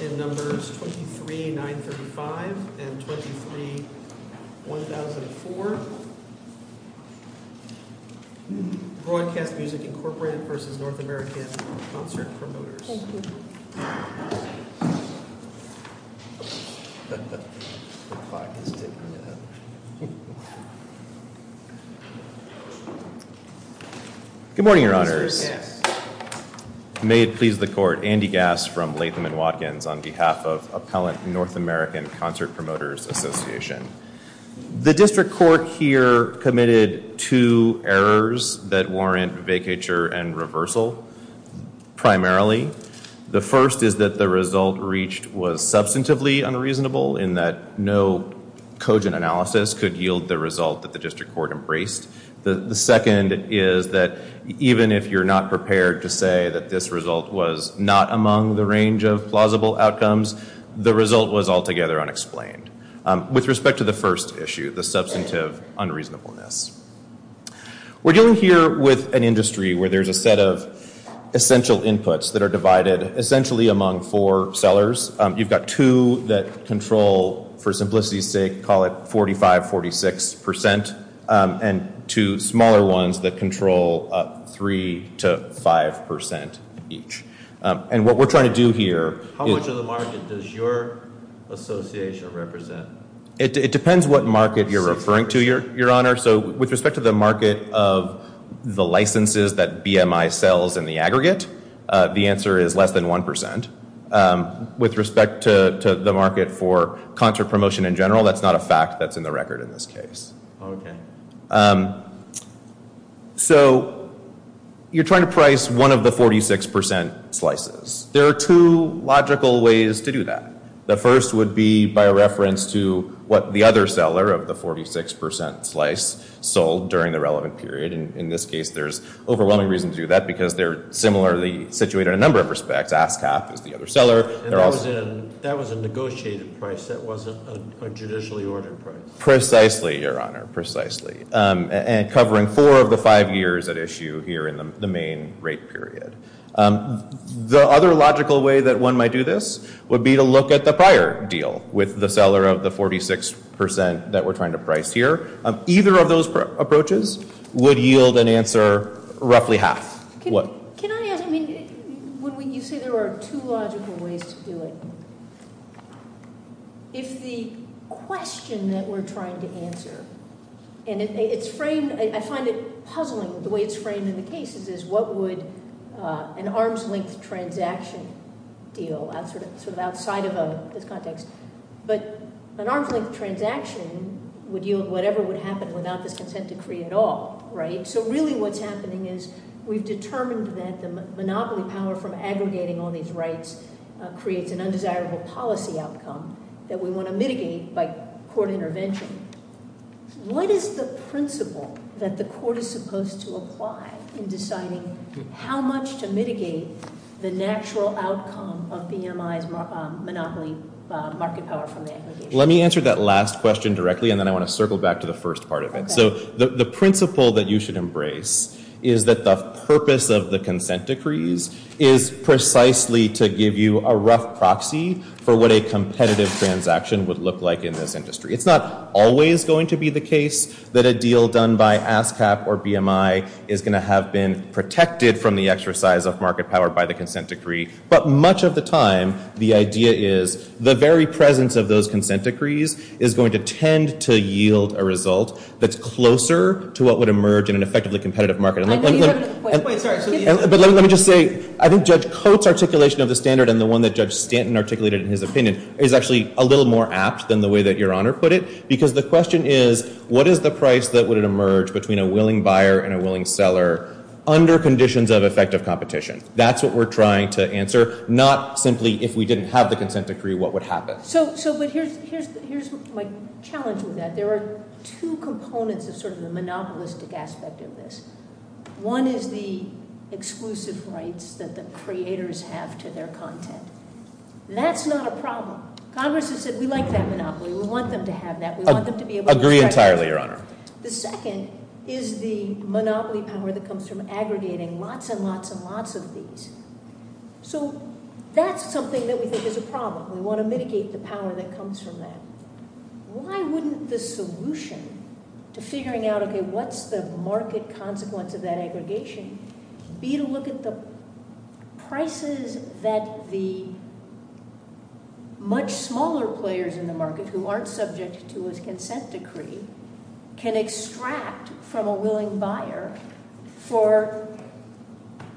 in numbers 23,935 and 23,1004. Broadcast Music, Inc. v. North American Concert Promoters. Good morning, your honors. May it please the court, Andy Gass from Latham & Watkins on behalf of Appellant North American Concert Promoters Association. The district court here committed two errors that warrant vacature and reversal primarily. The first is that the result reached was substantively unreasonable in that no cogent analysis could yield the result that the district court embraced. The second is that even if you're not prepared to say that this result was not among the range of plausible outcomes, the result was altogether unexplained. With respect to the first issue, the substantive unreasonableness. We're dealing here with an industry where there's a set of essential inputs that are divided essentially among four sellers. You've got two that control, for simplicity's sake, call it 45, 46%, and two smaller ones that control 3 to 5% each. How much of the market does your association represent? It depends what market you're referring to, your honor. With respect to the market of the licenses that BMI sells in the aggregate, the answer is less than 1%. With respect to the market for concert promotion in general, that's not a fact that's in the record in this case. Okay. So you're trying to price one of the 46% slices. There are two logical ways to do that. The first would be by reference to what the other seller of the 46% slice sold during the relevant period. In this case, there's overwhelming reason to do that because they're similarly situated in a number of respects. ASCAP is the other seller. That was a negotiated price. That wasn't a judicially ordered price. Precisely, your honor. Precisely. And covering four of the five years at issue here in the main rate period. The other logical way that one might do this would be to look at the prior deal with the seller of the 46% that we're trying to price here. Either of those approaches would yield an answer roughly half. Can I ask, I mean, you say there are two logical ways to do it. If the question that we're trying to answer, and it's framed, I find it puzzling the way it's framed in the cases is what would an arm's length transaction deal outside of this context. But an arm's length transaction would yield whatever would happen without this consent decree at all, right? So really what's happening is we've determined that the monopoly power from aggregating all these rights creates an undesirable policy outcome that we want to mitigate by court intervention. What is the principle that the court is supposed to apply in deciding how much to mitigate the natural outcome of BMI's monopoly market power from the aggregation? Let me answer that last question directly, and then I want to circle back to the first part of it. So the principle that you should embrace is that the purpose of the consent decrees is precisely to give you a rough proxy for what a competitive transaction would look like in this industry. It's not always going to be the case that a deal done by ASCAP or BMI is going to have been protected from the exercise of market power by the consent decree. But much of the time, the idea is the very presence of those consent decrees is going to tend to yield a result that's closer to what would emerge in an effectively competitive market. But let me just say, I think Judge Coates' articulation of the standard and the one that Judge Stanton articulated in his opinion is actually a little more apt than the way that Your Honor put it. Because the question is, what is the price that would emerge between a willing buyer and a willing seller under conditions of effective competition? That's what we're trying to answer, not simply if we didn't have the consent decree, what would happen. So, but here's my challenge with that. There are two components of sort of the monopolistic aspect of this. One is the exclusive rights that the creators have to their content. That's not a problem. Congress has said, we like that monopoly. We want them to have that. We want them to be able to- Agree entirely, Your Honor. The second is the monopoly power that comes from aggregating lots and lots and lots of these. So, that's something that we think is a problem. We want to mitigate the power that comes from that. Why wouldn't the solution to figuring out, okay, what's the market consequence of that aggregation be to look at the prices that the much smaller players in the market who aren't subject to a consent decree can extract from a willing buyer for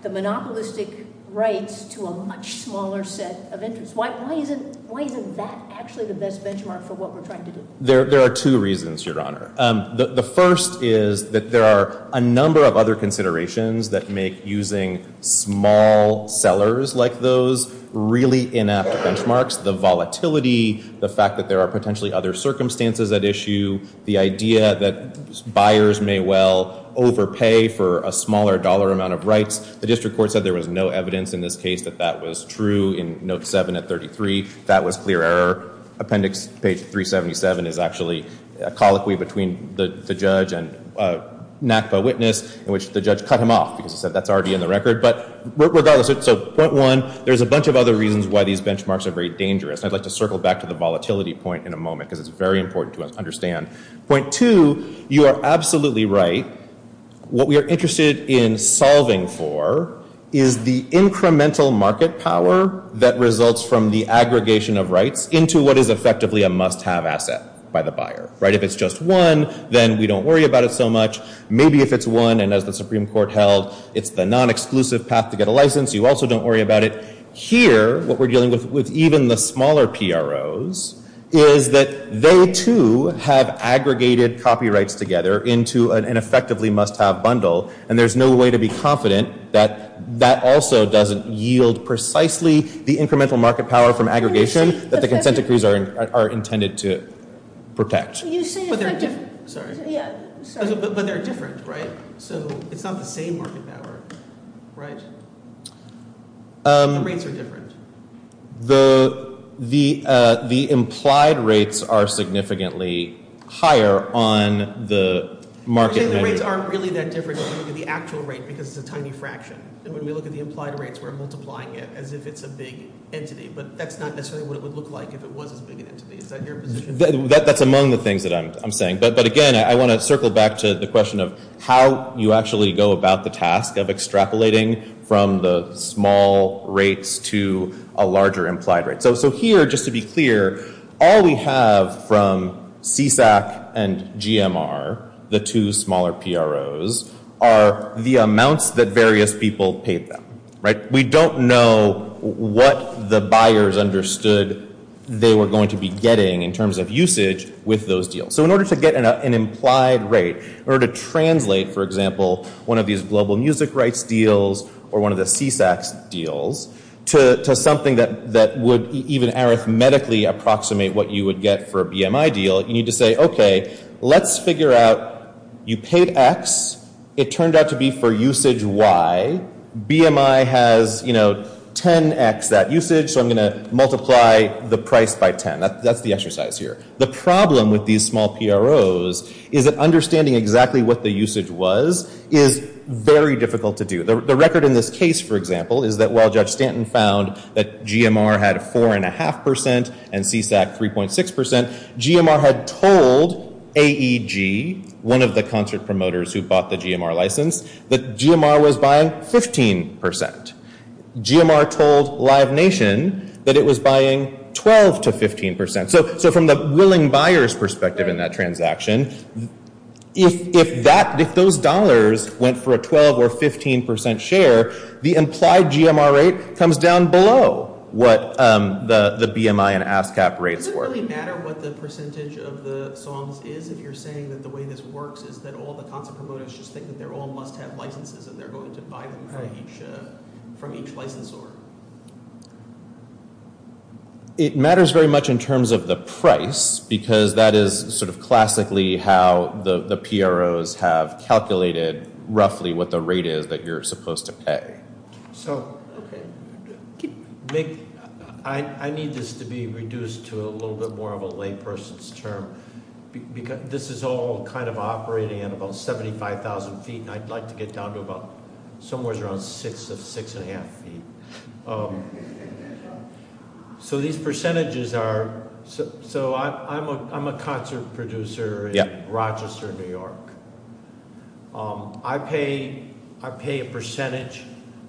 the monopolistic rights to a much smaller set of interests? Why isn't that actually the best benchmark for what we're trying to do? There are two reasons, Your Honor. The first is that there are a number of other considerations that make using small sellers like those really inept benchmarks. The volatility, the fact that there are potentially other circumstances at issue, the idea that buyers may well overpay for a smaller dollar amount of rights. The district court said there was no evidence in this case that that was true in Note 7 at 33. That was clear error. Appendix page 377 is actually a colloquy between the judge and NACPA witness in which the judge cut him off because he said that's already in the record. But regardless, so point one, there's a bunch of other reasons why these benchmarks are very dangerous. I'd like to circle back to the volatility point in a moment because it's very important to understand. Point two, you are absolutely right. What we are interested in solving for is the incremental market power that results from the aggregation of rights into what is effectively a must-have asset by the buyer. If it's just one, then we don't worry about it so much. Maybe if it's one, and as the Supreme Court held, it's the non-exclusive path to get a license. You also don't worry about it. Here, what we're dealing with with even the smaller PROs is that they, too, have aggregated copyrights together into an effectively must-have bundle, and there's no way to be confident that that also doesn't yield precisely the incremental market power from aggregation that the consent decrees are intended to protect. But they're different, right? So it's not the same market power, right? The rates are different. The implied rates are significantly higher on the market menu. You're saying the rates aren't really that different when you look at the actual rate because it's a tiny fraction, and when we look at the implied rates, we're multiplying it as if it's a big entity, but that's not necessarily what it would look like if it was as big an entity. Is that your position? That's among the things that I'm saying. But again, I want to circle back to the question of how you actually go about the task of extrapolating from the small rates to a larger implied rate. So here, just to be clear, all we have from CSAC and GMR, the two smaller PROs, are the amounts that various people paid them, right? We don't know what the buyers understood they were going to be getting in terms of usage with those deals. So in order to get an implied rate, in order to translate, for example, one of these global music rights deals or one of the CSAC deals to something that would even arithmetically approximate what you would get for a BMI deal, you need to say, okay, let's figure out you paid X, it turned out to be for usage Y, BMI has 10X that usage, so I'm going to multiply the price by 10. That's the exercise here. The problem with these small PROs is that understanding exactly what the usage was is very difficult to do. The record in this case, for example, is that while Judge Stanton found that GMR had 4.5% and CSAC 3.6%, GMR had told AEG, one of the concert promoters who bought the GMR license, that GMR was buying 15%. GMR told Live Nation that it was buying 12 to 15%. So from the willing buyer's perspective in that transaction, if those dollars went for a 12 or 15% share, the implied GMR rate comes down below what the BMI and ASCAP rates were. Does it really matter what the percentage of the songs is if you're saying that the way this works is that all the concert promoters just think that they all must have licenses and they're going to buy them from each licensor? It matters very much in terms of the price because that is sort of classically how the PROs have calculated roughly what the rate is that you're supposed to pay. So I need this to be reduced to a little bit more of a layperson's term because this is all kind of operating at about 75,000 feet and I'd like to get down to about somewhere around six and a half feet. So these percentages are, so I'm a concert producer in Rochester, New York. I pay a percentage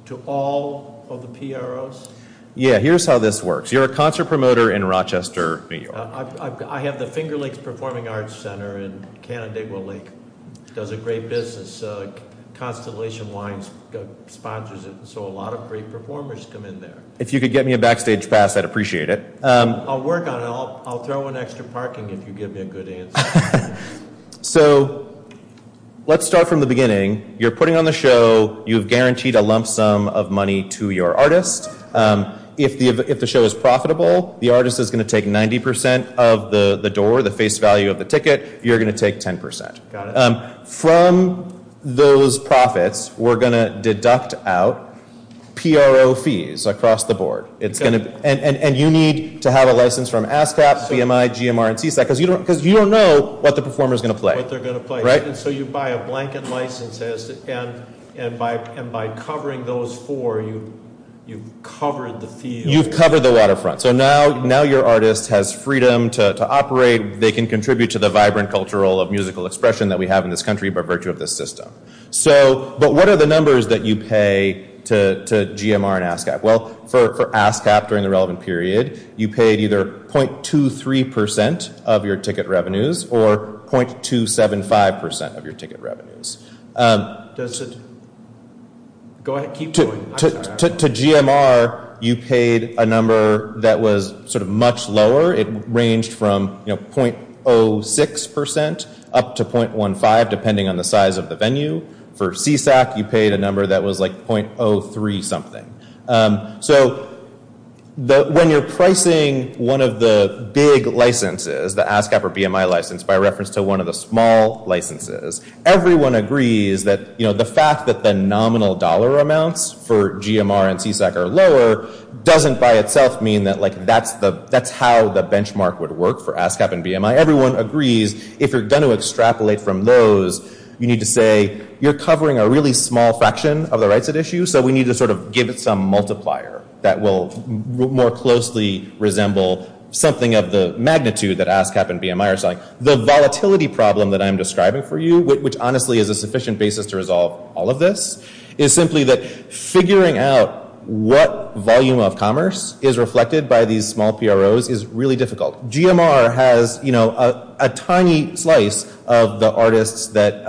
to all of the PROs. Yeah, here's how this works. You're a concert promoter in Rochester, New York. I have the Finger Lakes Performing Arts Center in Canandaigua Lake. It does a great business. Constellation Wines sponsors it, so a lot of great performers come in there. If you could get me a backstage pass, I'd appreciate it. I'll work on it. I'll throw in extra parking if you give me a good answer. So let's start from the beginning. You're putting on the show. You've guaranteed a lump sum of money to your artist. If the show is profitable, the artist is going to take 90% of the door, the face value of the ticket. You're going to take 10%. From those profits, we're going to deduct out PRO fees across the board. You need to have a license from ASCAP, BMI, GMR, and CSAC because you don't know what the performer is going to play. So you buy a blanket license, and by covering those four, you've covered the field. You've covered the waterfront. So now your artist has freedom to operate. They can contribute to the vibrant cultural of musical expression that we have in this country by virtue of this system. But what are the numbers that you pay to GMR and ASCAP? Well, for ASCAP during the relevant period, you paid either 0.23% of your ticket revenues or 0.275% of your ticket revenues. To GMR, you paid a number that was sort of much lower. It ranged from 0.06% up to 0.15% depending on the size of the venue. For CSAC, you paid a number that was like 0.03 something. So when you're pricing one of the big licenses, the ASCAP or BMI license, by reference to one of the small licenses, everyone agrees that the fact that the nominal dollar amounts for GMR and CSAC are lower doesn't by itself mean that that's how the benchmark would work for ASCAP and BMI. Everyone agrees if you're going to extrapolate from those, you need to say you're covering a really small fraction of the rights at issue, so we need to sort of give it some multiplier that will more closely resemble something of the magnitude that ASCAP and BMI are selling. The volatility problem that I'm describing for you, which honestly is a sufficient basis to resolve all of this, is simply that figuring out what volume of commerce is reflected by these small PROs is really difficult. GMR has a tiny slice of the artists that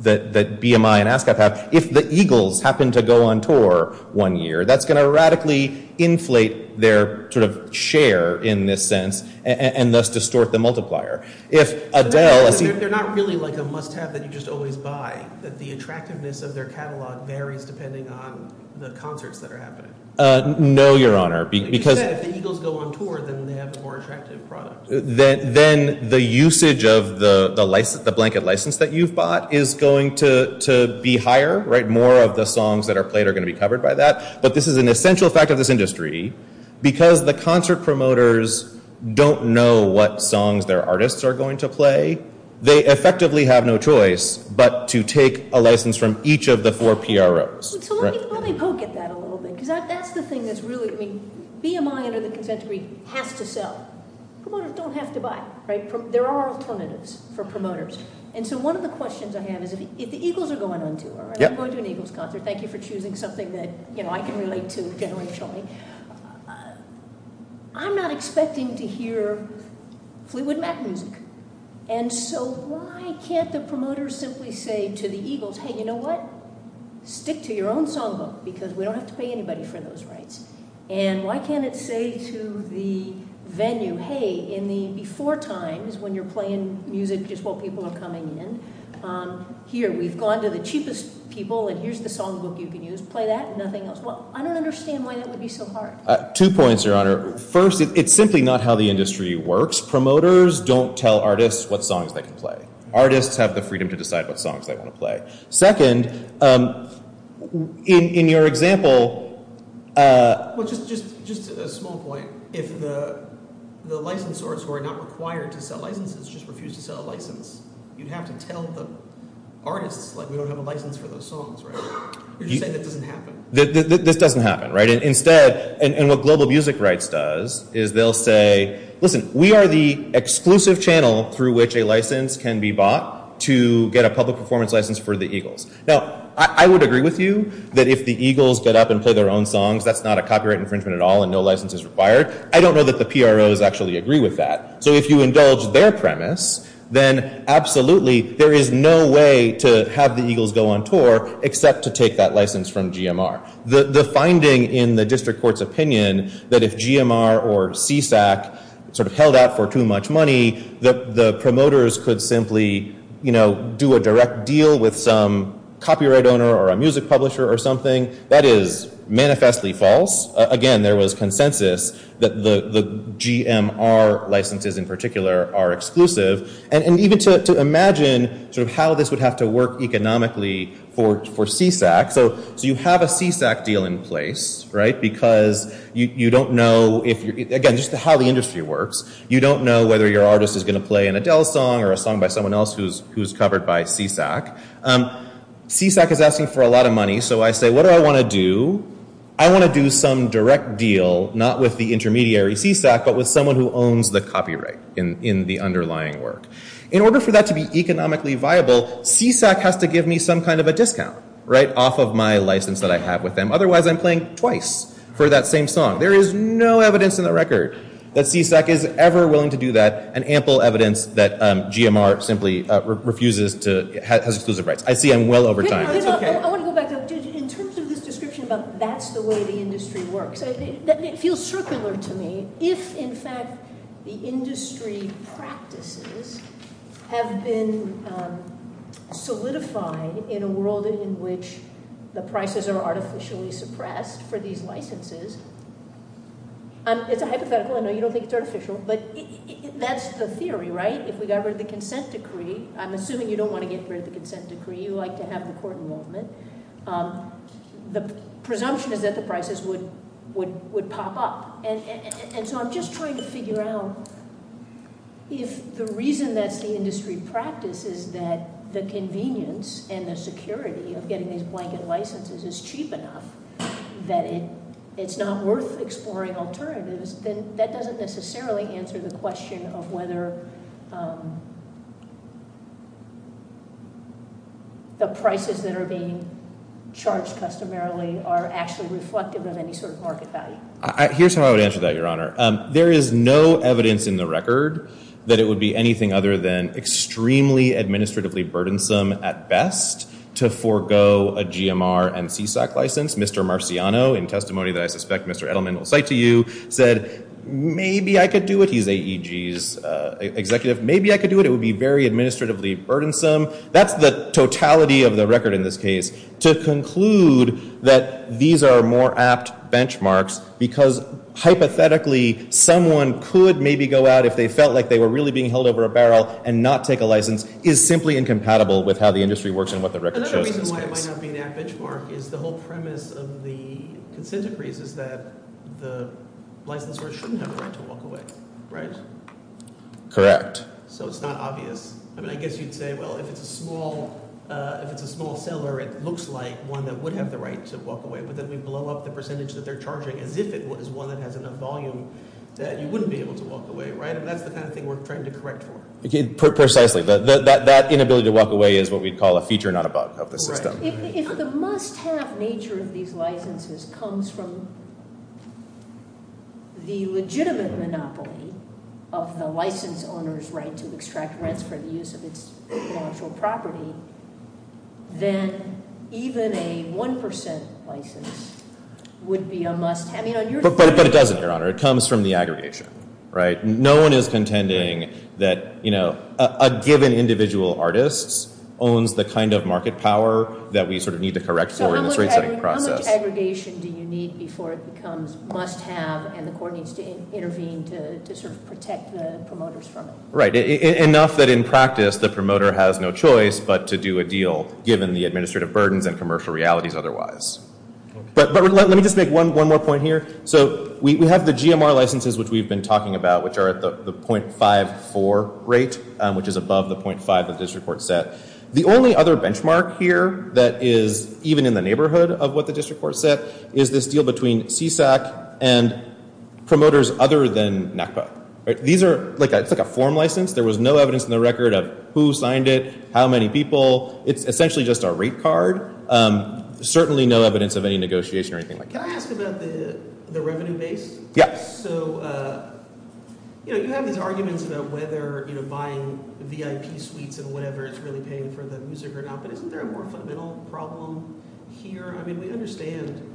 BMI and ASCAP have. If the Eagles happen to go on tour one year, that's going to radically inflate their share in this sense and thus distort the multiplier. They're not really like a must-have that you just always buy, that the attractiveness of their catalog varies depending on the concerts that are happening. No, Your Honor. If the Eagles go on tour, then they have a more attractive product. Then the usage of the blanket license that you've bought is going to be higher. More of the songs that are played are going to be covered by that. But this is an essential fact of this industry. Because the concert promoters don't know what songs their artists are going to play, they effectively have no choice but to take a license from each of the four PROs. Let me poke at that a little bit. BMI under the consent decree has to sell. Promoters don't have to buy. There are alternatives for promoters. One of the questions I have is if the Eagles are going on tour, I'm going to an Eagles concert, thank you for choosing something that I can relate to generally. I'm not expecting to hear Fleetwood Mac music. So why can't the promoters simply say to the Eagles, hey, you know what? Stick to your own songbook because we don't have to pay anybody for those rights. Why can't it say to the venue, hey, in the before times when you're playing music, just what people are coming in, here, we've gone to the cheapest people, and here's the songbook you can use. Play that and nothing else. I don't understand why that would be so hard. Two points, Your Honor. First, it's simply not how the industry works. Promoters don't tell artists what songs they can play. Artists have the freedom to decide what songs they want to play. Second, in your example – Well, just a small point. If the licensors were not required to sell licenses, just refused to sell a license, you'd have to tell the artists, like we don't have a license for those songs, right? You're just saying that doesn't happen. This doesn't happen, right? Instead, and what Global Music Rights does is they'll say, listen, we are the exclusive channel through which a license can be bought to get a public performance license for The Eagles. Now, I would agree with you that if The Eagles get up and play their own songs, that's not a copyright infringement at all and no license is required. I don't know that the PROs actually agree with that. So if you indulge their premise, then absolutely, there is no way to have The Eagles go on tour except to take that license from GMR. The finding in the district court's opinion that if GMR or CSAC held out for too much money, the promoters could simply do a direct deal with some copyright owner or a music publisher or something, that is manifestly false. Again, there was consensus that the GMR licenses in particular are exclusive. And even to imagine how this would have to work economically for CSAC. So you have a CSAC deal in place, right? Because you don't know, again, just how the industry works. You don't know whether your artist is going to play an Adele song or a song by someone else who is covered by CSAC. CSAC is asking for a lot of money. So I say, what do I want to do? I want to do some direct deal, not with the intermediary CSAC, but with someone who owns the copyright in the underlying work. In order for that to be economically viable, CSAC has to give me some kind of a discount, right? Off of my license that I have with them. Otherwise, I'm playing twice for that same song. There is no evidence in the record that CSAC is ever willing to do that, and ample evidence that GMR simply refuses to, has exclusive rights. I see I'm well over time. I want to go back. In terms of this description about that's the way the industry works, it feels circular to me. If, in fact, the industry practices have been solidified in a world in which the prices are artificially suppressed for these licenses, it's a hypothetical, I know you don't think it's artificial, but that's the theory, right? If we got rid of the consent decree, I'm assuming you don't want to get rid of the consent decree. You like to have the court involvement. The presumption is that the prices would pop up. And so I'm just trying to figure out if the reason that's the industry practice is that the convenience and the security of getting these blanket licenses is cheap enough, that it's not worth exploring alternatives, then that doesn't necessarily answer the question of whether the prices that are being charged customarily are actually reflective of any sort of market value. Here's how I would answer that, Your Honor. There is no evidence in the record that it would be anything other than extremely administratively burdensome, at best, to forego a GMR and CSAC license. Mr. Marciano, in testimony that I suspect Mr. Edelman will cite to you, said, maybe I could do it. He's AEG's executive. Maybe I could do it. It would be very administratively burdensome. That's the totality of the record in this case. To conclude that these are more apt benchmarks because hypothetically someone could maybe go out if they felt like they were really being held over a barrel and not take a license is simply incompatible with how the industry works and what the record shows in this case. Another reason why it might not be an apt benchmark is the whole premise of the consent decrees is that the licensor shouldn't have a right to walk away, right? Correct. So it's not obvious. I mean, I guess you'd say, well, if it's a small seller, it looks like one that would have the right to walk away, but then we blow up the percentage that they're charging as if it was one that has enough volume that you wouldn't be able to walk away, right? That's the kind of thing we're trying to correct for. Precisely. That inability to walk away is what we'd call a feature, not a bug, of the system. If the must-have nature of these licenses comes from the legitimate monopoly of the license owner's right to extract rents for the use of its financial property, then even a 1% license would be a must-have. But it doesn't, Your Honor. It comes from the aggregation, right? No one is contending that a given individual artist owns the kind of market power that we sort of need to correct for in this rate-setting process. How much aggregation do you need before it becomes must-have and the court needs to intervene to sort of protect the promoters from it? Right. Enough that in practice the promoter has no choice but to do a deal given the administrative burdens and commercial realities otherwise. But let me just make one more point here. So we have the GMR licenses which we've been talking about, which are at the .54 rate, which is above the .5 that this report set. The only other benchmark here that is even in the neighborhood of what the district court set is this deal between CSAC and promoters other than NACPO. These are like a form license. There was no evidence in the record of who signed it, how many people. It's essentially just a rate card. Certainly no evidence of any negotiation or anything like that. Can I ask about the revenue base? Yes. So you have these arguments about whether buying VIP suites and whatever is really paying for the music or not, but isn't there a more fundamental problem here? I mean we understand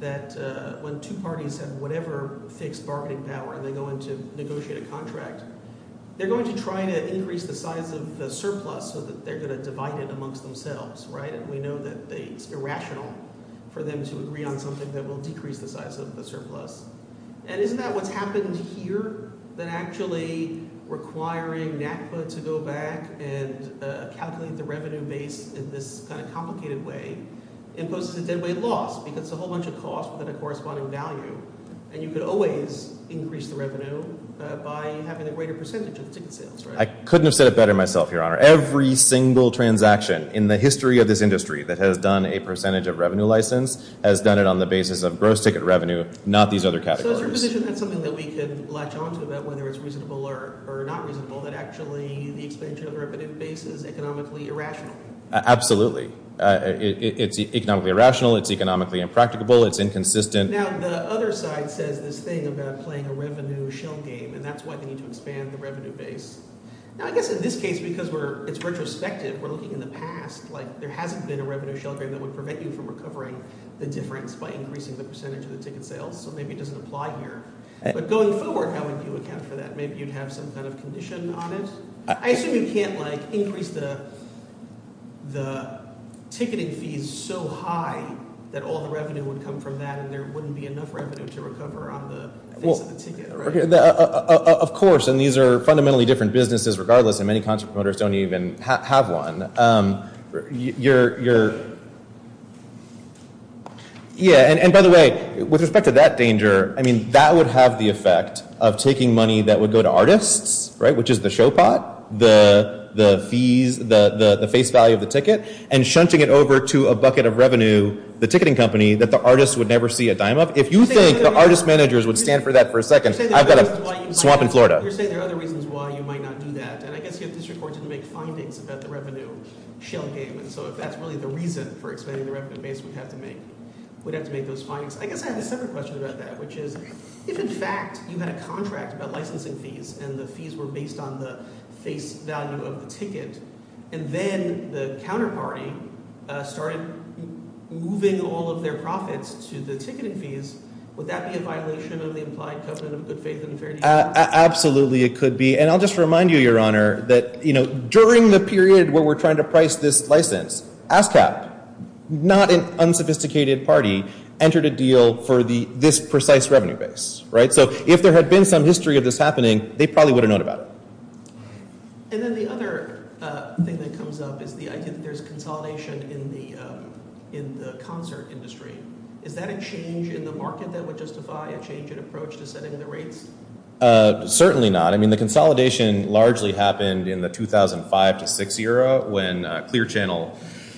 that when two parties have whatever fixed bargaining power and they go in to negotiate a contract, they're going to try to increase the size of the surplus so that they're going to divide it amongst themselves. We know that it's irrational for them to agree on something that will decrease the size of the surplus. And isn't that what's happened here that actually requiring NACPO to go back and calculate the revenue base in this kind of complicated way imposes a dead weight loss because it's a whole bunch of costs without a corresponding value, and you could always increase the revenue by having a greater percentage of the ticket sales, right? I couldn't have said it better myself, Your Honor. Every single transaction in the history of this industry that has done a percentage of revenue license has done it on the basis of gross ticket revenue, not these other categories. So is there a position that's something that we could latch on to about whether it's reasonable or not reasonable that actually the expansion of the revenue base is economically irrational? Absolutely. It's economically irrational. It's economically impracticable. It's inconsistent. Now the other side says this thing about playing a revenue shell game and that's why they need to expand the revenue base. Now I guess in this case because it's retrospective, we're looking in the past like there hasn't been a revenue shell game that would prevent you from recovering the difference by increasing the percentage of the ticket sales, so maybe it doesn't apply here. But going forward, how would you account for that? Maybe you'd have some kind of condition on it. I assume you can't increase the ticketing fees so high that all the revenue would come from that and there wouldn't be enough revenue to recover on the face of the ticket, right? Of course, and these are fundamentally different businesses regardless, and many entrepreneurs don't even have one. You're – yeah, and by the way, with respect to that danger, I mean that would have the effect of taking money that would go to artists, which is the show pot, the fees, the face value of the ticket, and shunting it over to a bucket of revenue, the ticketing company, that the artist would never see a dime of. If you think the artist managers would stand for that for a second, I've got a swamp in Florida. You're saying there are other reasons why you might not do that, and I guess your district court didn't make findings about the revenue shell game, and so if that's really the reason for expanding the revenue base, we'd have to make those findings. I guess I have a separate question about that, which is if, in fact, you had a contract about licensing fees and the fees were based on the face value of the ticket and then the counterparty started moving all of their profits to the ticketing fees, would that be a violation of the implied covenant of good faith and fairness? Absolutely it could be, and I'll just remind you, Your Honor, that during the period where we're trying to price this license, ASCAP, not an unsophisticated party, entered a deal for this precise revenue base. So if there had been some history of this happening, they probably would have known about it. And then the other thing that comes up is the idea that there's consolidation in the concert industry. Is that a change in the market that would justify a change in approach to setting the rates? Certainly not. I mean the consolidation largely happened in the 2005 to 2006 era when Clear Channel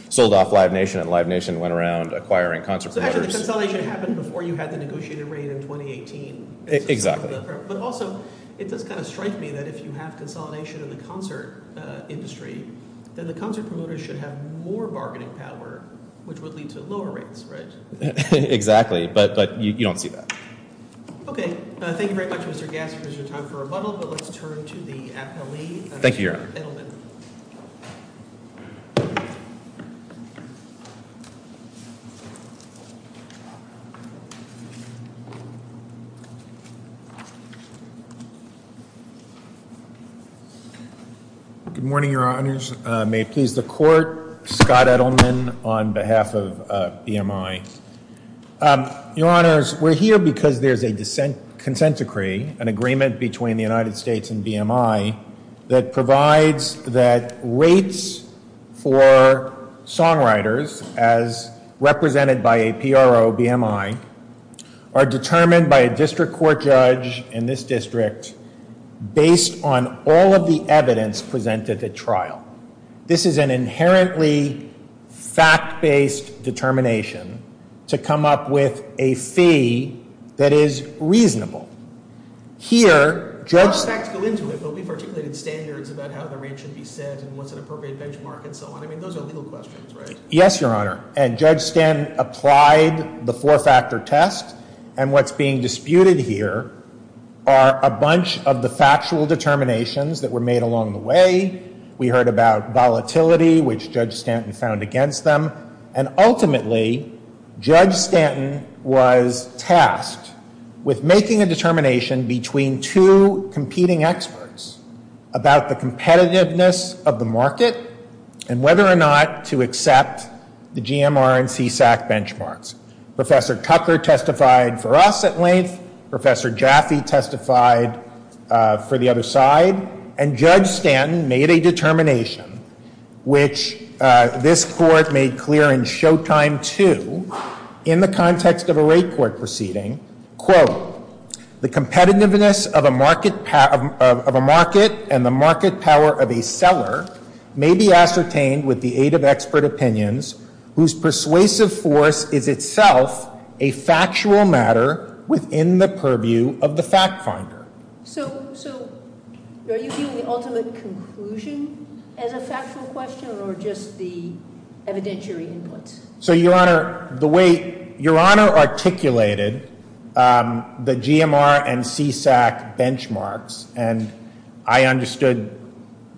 sold off Live Nation and Live Nation went around acquiring concert promoters. So actually the consolidation happened before you had the negotiated rate in 2018. Exactly. But also it does kind of strike me that if you have consolidation in the concert industry, then the concert promoters should have more bargaining power, which would lead to lower rates, right? Exactly. But you don't see that. Okay. Thank you very much, Mr. Gasser, for your time for rebuttal. But let's turn to the appellee, Mr. Edelman. Thank you, Your Honor. Good morning, Your Honors. May it please the Court, Scott Edelman on behalf of BMI. Your Honors, we're here because there's a consent decree, an agreement between the United States and BMI, that provides that rates for songwriters, as represented by APRO-BMI, are determined by a district court judge in this district based on all of the evidence presented at trial. This is an inherently fact-based determination to come up with a fee that is reasonable. Here, Judge Stanton I don't expect to go into it, but we've articulated standards about how the rate should be set and what's an appropriate benchmark and so on. I mean, those are legal questions, right? Yes, Your Honor. And Judge Stanton applied the four-factor test. And what's being disputed here are a bunch of the factual determinations that were made along the way. We heard about volatility, which Judge Stanton found against them. And ultimately, Judge Stanton was tasked with making a determination between two competing experts about the competitiveness of the market and whether or not to accept the GMR and CSAC benchmarks. Professor Cutler testified for us at length. Professor Jaffe testified for the other side. And Judge Stanton made a determination, which this Court made clear in Showtime 2, in the context of a rate court proceeding, quote, The competitiveness of a market and the market power of a seller may be ascertained with the aid of expert opinions whose persuasive force is itself a factual matter within the purview of the fact finder. So are you giving the ultimate conclusion as a factual question or just the evidentiary input? So, Your Honor, the way Your Honor articulated the GMR and CSAC benchmarks, and I understood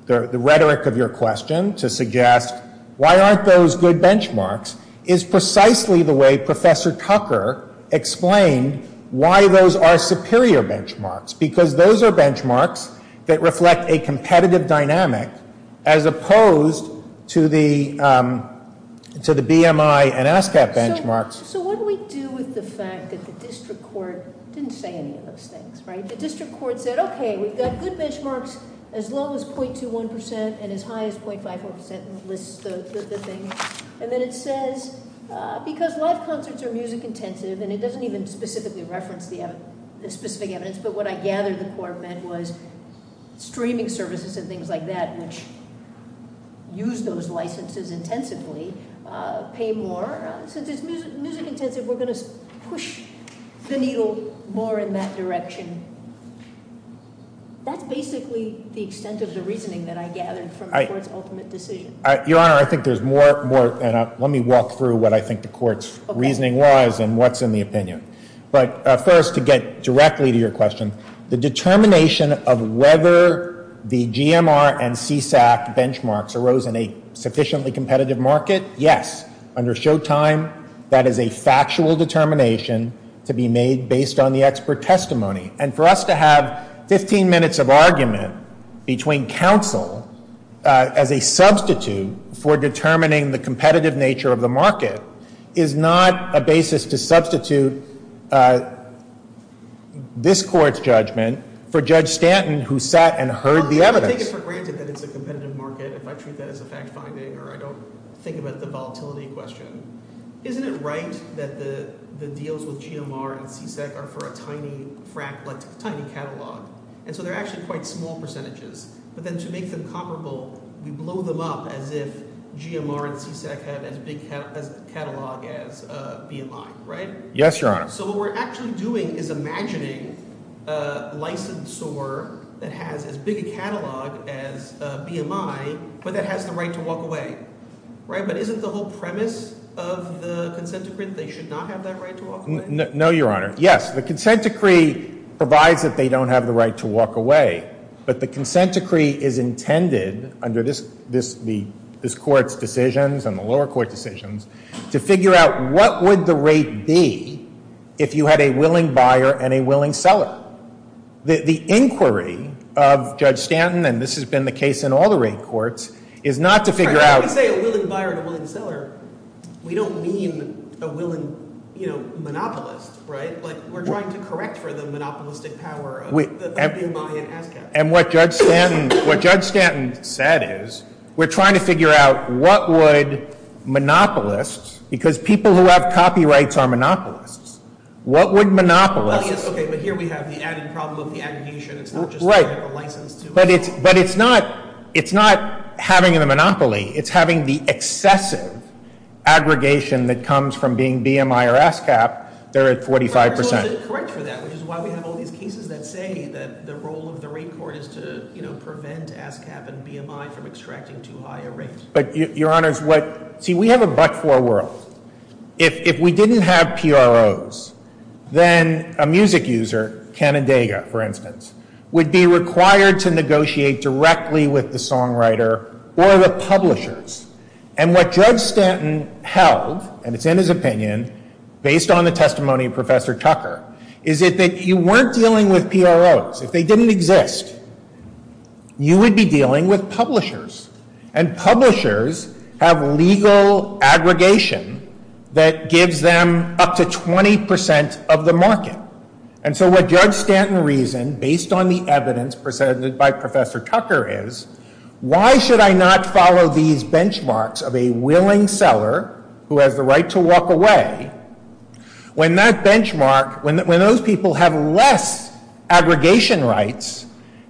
the rhetoric of your question to suggest why aren't those good benchmarks, is precisely the way Professor Cutler explained why those are superior benchmarks, because those are benchmarks that reflect a competitive dynamic as opposed to the BMI and ASCAP benchmarks. So what do we do with the fact that the district court didn't say any of those things, right? The district court said, okay, we've got good benchmarks as low as 0.21 percent and as high as 0.54 percent, and then it says, because live concerts are music-intensive, and it doesn't even specifically reference the specific evidence, but what I gather the court meant was streaming services and things like that, which use those licenses intensively, pay more. Since it's music-intensive, we're going to push the needle more in that direction. That's basically the extent of the reasoning that I gathered from the court's ultimate decision. Your Honor, I think there's more, and let me walk through what I think the court's reasoning was and what's in the opinion. But first, to get directly to your question, the determination of whether the GMR and CSAC benchmarks arose in a sufficiently competitive market, yes. Under Showtime, that is a factual determination to be made based on the expert testimony, and for us to have 15 minutes of argument between counsel as a substitute for determining the competitive nature of the market is not a basis to substitute this court's judgment for Judge Stanton, who sat and heard the evidence. I take it for granted that it's a competitive market if I treat that as a fact-finding, or I don't think about the volatility question. Isn't it right that the deals with GMR and CSAC are for a tiny catalog, and so they're actually quite small percentages? But then to make them comparable, we blow them up as if GMR and CSAC had as big a catalog as BMI, right? Yes, Your Honor. So what we're actually doing is imagining a licensor that has as big a catalog as BMI, but that has the right to walk away, right? But isn't the whole premise of the consent decree that they should not have that right to walk away? No, Your Honor. Yes, the consent decree provides that they don't have the right to walk away, but the consent decree is intended under this Court's decisions and the lower court decisions to figure out what would the rate be if you had a willing buyer and a willing seller. The inquiry of Judge Stanton, and this has been the case in all the rate courts, is not to figure out— we don't mean a willing monopolist, right? We're trying to correct for the monopolistic power of BMI and ASCAP. And what Judge Stanton said is we're trying to figure out what would monopolists, because people who have copyrights are monopolists, what would monopolists— Well, yes, okay, but here we have the added problem of the attribution. It's not just a license to— But it's not having the monopoly. It's having the excessive aggregation that comes from being BMI or ASCAP. They're at 45 percent. But we're totally correct for that, which is why we have all these cases that say that the role of the rate court is to prevent ASCAP and BMI from extracting too high a rate. But, Your Honors, what—see, we have a but-for world. If we didn't have PROs, then a music user, Canandaiga, for instance, would be required to negotiate directly with the songwriter or the publishers. And what Judge Stanton held, and it's in his opinion, based on the testimony of Professor Tucker, is that you weren't dealing with PROs. If they didn't exist, you would be dealing with publishers. And publishers have legal aggregation that gives them up to 20 percent of the market. And so what Judge Stanton reasoned, based on the evidence presented by Professor Tucker, is why should I not follow these benchmarks of a willing seller who has the right to walk away when that benchmark—when those people have less aggregation rights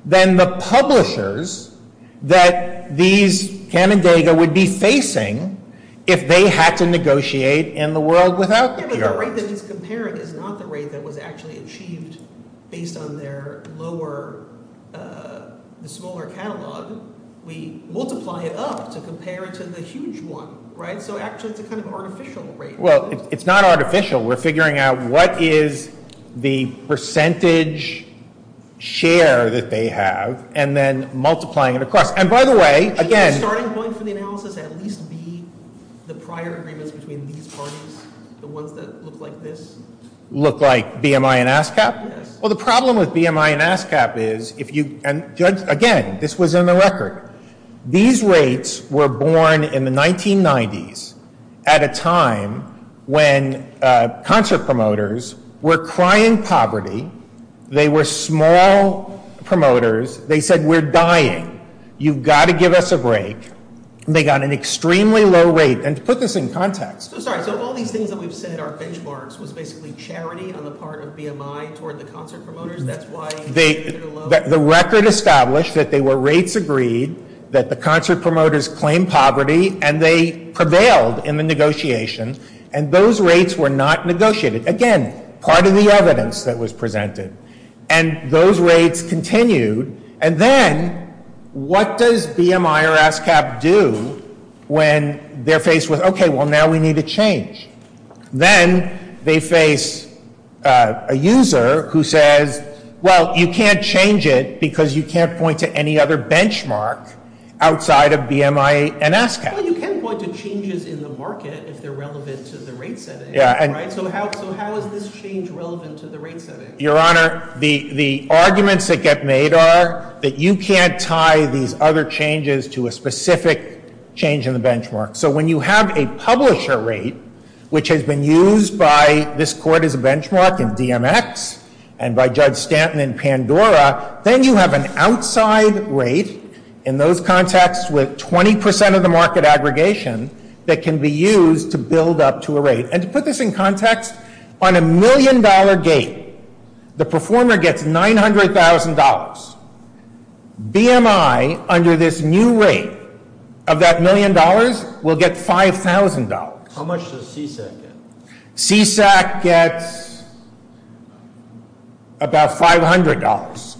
than the publishers that these—Canandaiga would be facing if they had to negotiate in the world without PROs. But the rate that he's comparing is not the rate that was actually achieved based on their lower—the smaller catalog. We multiply it up to compare it to the huge one, right? So actually it's a kind of artificial rate. Well, it's not artificial. We're figuring out what is the percentage share that they have and then multiplying it across. And by the way, again— The ones that look like this? Look like BMI and ASCAP? Yes. Well, the problem with BMI and ASCAP is if you—and, Judge, again, this was in the record. These rates were born in the 1990s at a time when concert promoters were crying poverty. They were small promoters. They said, we're dying. You've got to give us a break. They got an extremely low rate. And to put this in context— I'm sorry. So all these things that we've said are benchmarks was basically charity on the part of BMI toward the concert promoters? That's why— The record established that they were rates agreed, that the concert promoters claimed poverty, and they prevailed in the negotiation, and those rates were not negotiated. Again, part of the evidence that was presented. And those rates continued. And then what does BMI or ASCAP do when they're faced with, okay, well, now we need to change? Then they face a user who says, well, you can't change it because you can't point to any other benchmark outside of BMI and ASCAP. Well, you can point to changes in the market if they're relevant to the rate setting, right? So how is this change relevant to the rate setting? Your Honor, the arguments that get made are that you can't tie these other changes to a specific change in the benchmark. So when you have a publisher rate, which has been used by this Court as a benchmark in DMX and by Judge Stanton in Pandora, then you have an outside rate in those contexts with 20 percent of the market aggregation that can be used to build up to a rate. And to put this in context, on a million-dollar gate, the performer gets $900,000. BMI, under this new rate of that million dollars, will get $5,000. How much does CSAC get? CSAC gets about $500.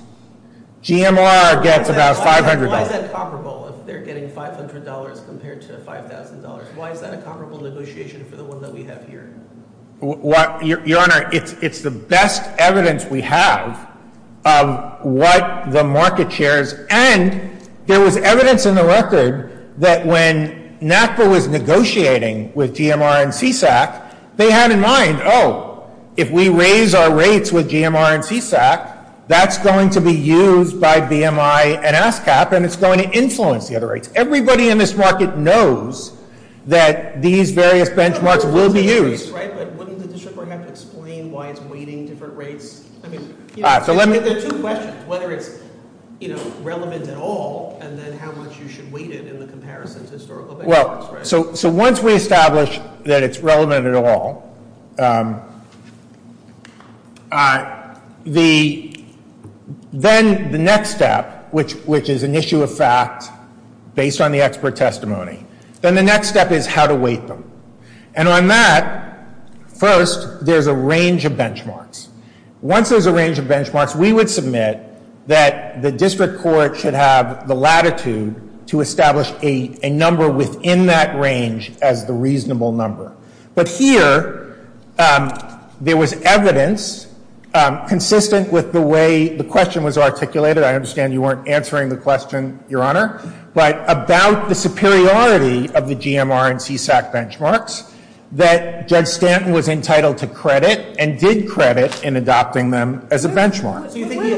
GMR gets about $500. Why is that comparable if they're getting $500 compared to $5,000? Why is that a comparable negotiation for the one that we have here? Your Honor, it's the best evidence we have of what the market shares. And there was evidence in the record that when NAFTA was negotiating with GMR and CSAC, they had in mind, oh, if we raise our rates with GMR and CSAC, that's going to be used by BMI and ASCAP, and it's going to influence the other rates. Everybody in this market knows that these various benchmarks will be used. But wouldn't the district court have to explain why it's weighting different rates? There are two questions, whether it's relevant at all, and then how much you should weight it in the comparison to historical benchmarks, right? So once we establish that it's relevant at all, then the next step, which is an issue of fact based on the expert testimony, then the next step is how to weight them. And on that, first, there's a range of benchmarks. Once there's a range of benchmarks, we would submit that the district court should have the latitude to establish a number within that range as the reasonable number. But here, there was evidence consistent with the way the question was articulated. I understand you weren't answering the question, Your Honor. But about the superiority of the GMR and CSAC benchmarks, that Judge Stanton was entitled to credit and did credit in adopting them as a benchmark. So you think he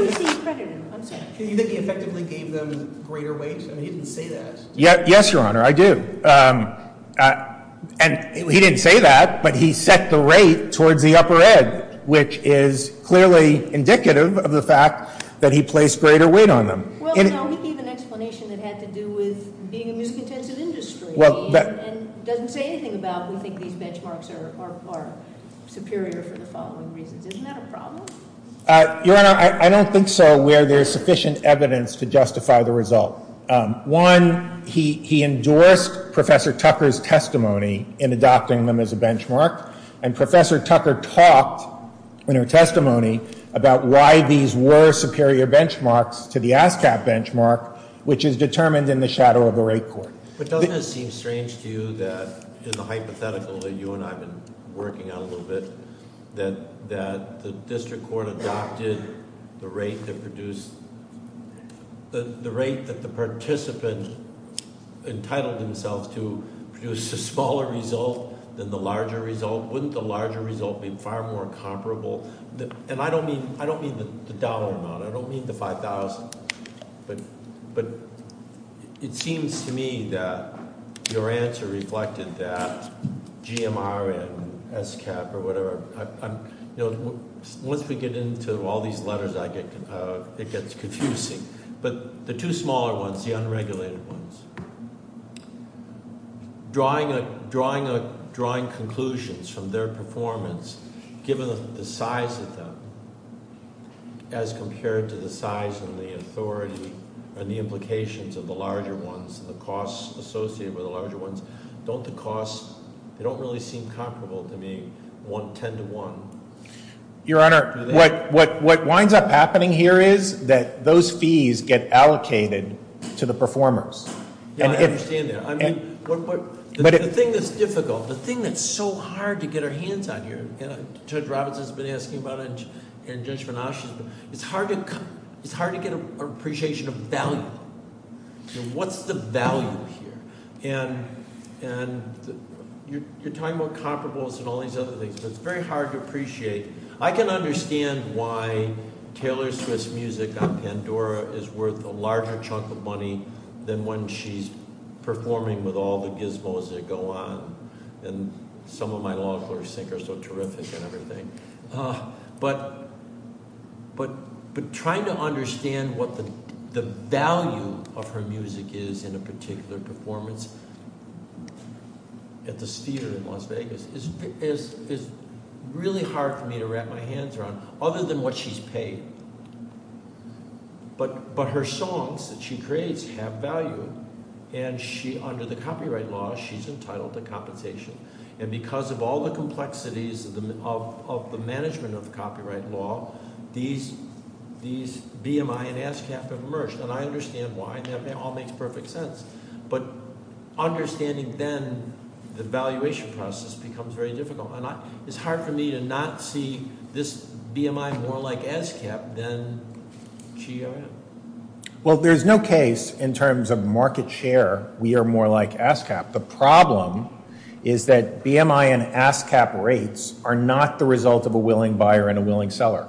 effectively gave them greater weight? I mean, he didn't say that. Yes, Your Honor, I do. And he didn't say that, but he set the rate towards the upper ed, which is clearly indicative of the fact that he placed greater weight on them. Well, no, he gave an explanation that had to do with being a miscontented industry and doesn't say anything about we think these benchmarks are superior for the following reasons. Isn't that a problem? Your Honor, I don't think so where there's sufficient evidence to justify the result. One, he endorsed Professor Tucker's testimony in adopting them as a benchmark. And Professor Tucker talked in her testimony about why these were superior benchmarks to the ASCAP benchmark, which is determined in the shadow of the rate court. But doesn't it seem strange to you that, in the hypothetical that you and I have been working on a little bit, that the district court adopted the rate that produced, the rate that the participant entitled himself to produced a smaller result than the larger result? Wouldn't the larger result be far more comparable? And I don't mean the dollar amount. I don't mean the $5,000. But it seems to me that your answer reflected that, GMR and ASCAP or whatever. Once we get into all these letters, it gets confusing. But the two smaller ones, the unregulated ones, drawing conclusions from their performance, given the size of them as compared to the size and the authority and the implications of the larger ones and the costs associated with the larger ones, don't the costs, they don't really seem comparable to me, 10 to 1. Your Honor, what winds up happening here is that those fees get allocated to the performers. Yeah, I understand that. I mean, the thing that's difficult, the thing that's so hard to get our hands on here, and Judge Robinson's been asking about it and Judge Venash has been, it's hard to get an appreciation of value. What's the value here? And you're talking about comparables and all these other things, but it's very hard to appreciate. I can understand why Taylor Swift's music on Pandora is worth a larger chunk of money than when she's performing with all the gizmos that go on. And some of my law clerks think her so terrific and everything. But trying to understand what the value of her music is in a particular performance at this theater in Las Vegas is really hard for me to wrap my hands around, other than what she's paid. But her songs that she creates have value, and under the copyright law, she's entitled to compensation. And because of all the complexities of the management of the copyright law, these BMI and ASCAP have emerged. And I understand why, and it all makes perfect sense. But understanding then the valuation process becomes very difficult. And it's hard for me to not see this BMI more like ASCAP than she or him. Well, there's no case in terms of market share we are more like ASCAP. The problem is that BMI and ASCAP rates are not the result of a willing buyer and a willing seller.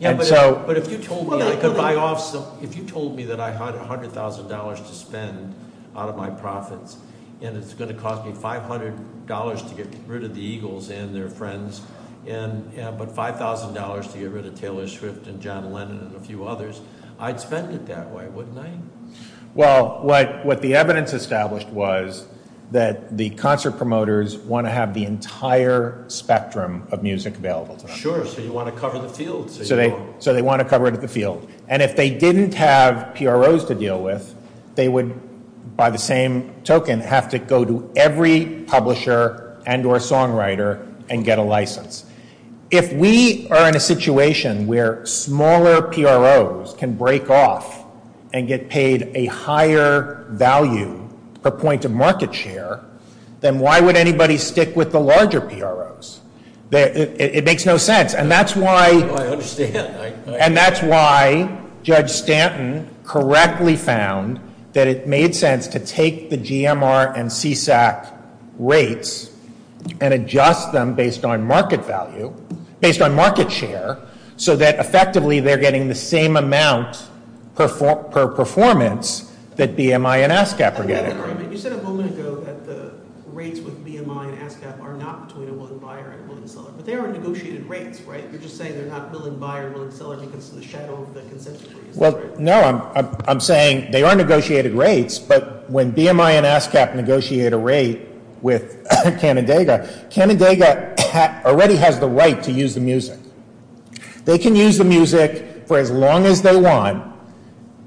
But if you told me that I had $100,000 to spend out of my profits, and it's going to cost me $500 to get rid of the Eagles and their friends, but $5,000 to get rid of Taylor Swift and John Lennon and a few others, I'd spend it that way, wouldn't I? Well, what the evidence established was that the concert promoters want to have the entire spectrum of music available to them. Sure, so you want to cover the field. So they want to cover it at the field. And if they didn't have PROs to deal with, they would, by the same token, have to go to every publisher and or songwriter and get a license. If we are in a situation where smaller PROs can break off and get paid a higher value per point of market share, then why would anybody stick with the larger PROs? It makes no sense. I understand. And that's why Judge Stanton correctly found that it made sense to take the GMR and CSAC rates and adjust them based on market value, based on market share, so that effectively they're getting the same amount per performance that BMI and ASCAP are getting. You said a moment ago that the rates with BMI and ASCAP are not between a willing buyer and a willing seller. But they are negotiated rates, right? You're just saying they're not willing buyer and willing seller because of the shadow of the consensus. Well, no, I'm saying they are negotiated rates. But when BMI and ASCAP negotiate a rate with Canandaiga, Canandaiga already has the right to use the music. They can use the music for as long as they want.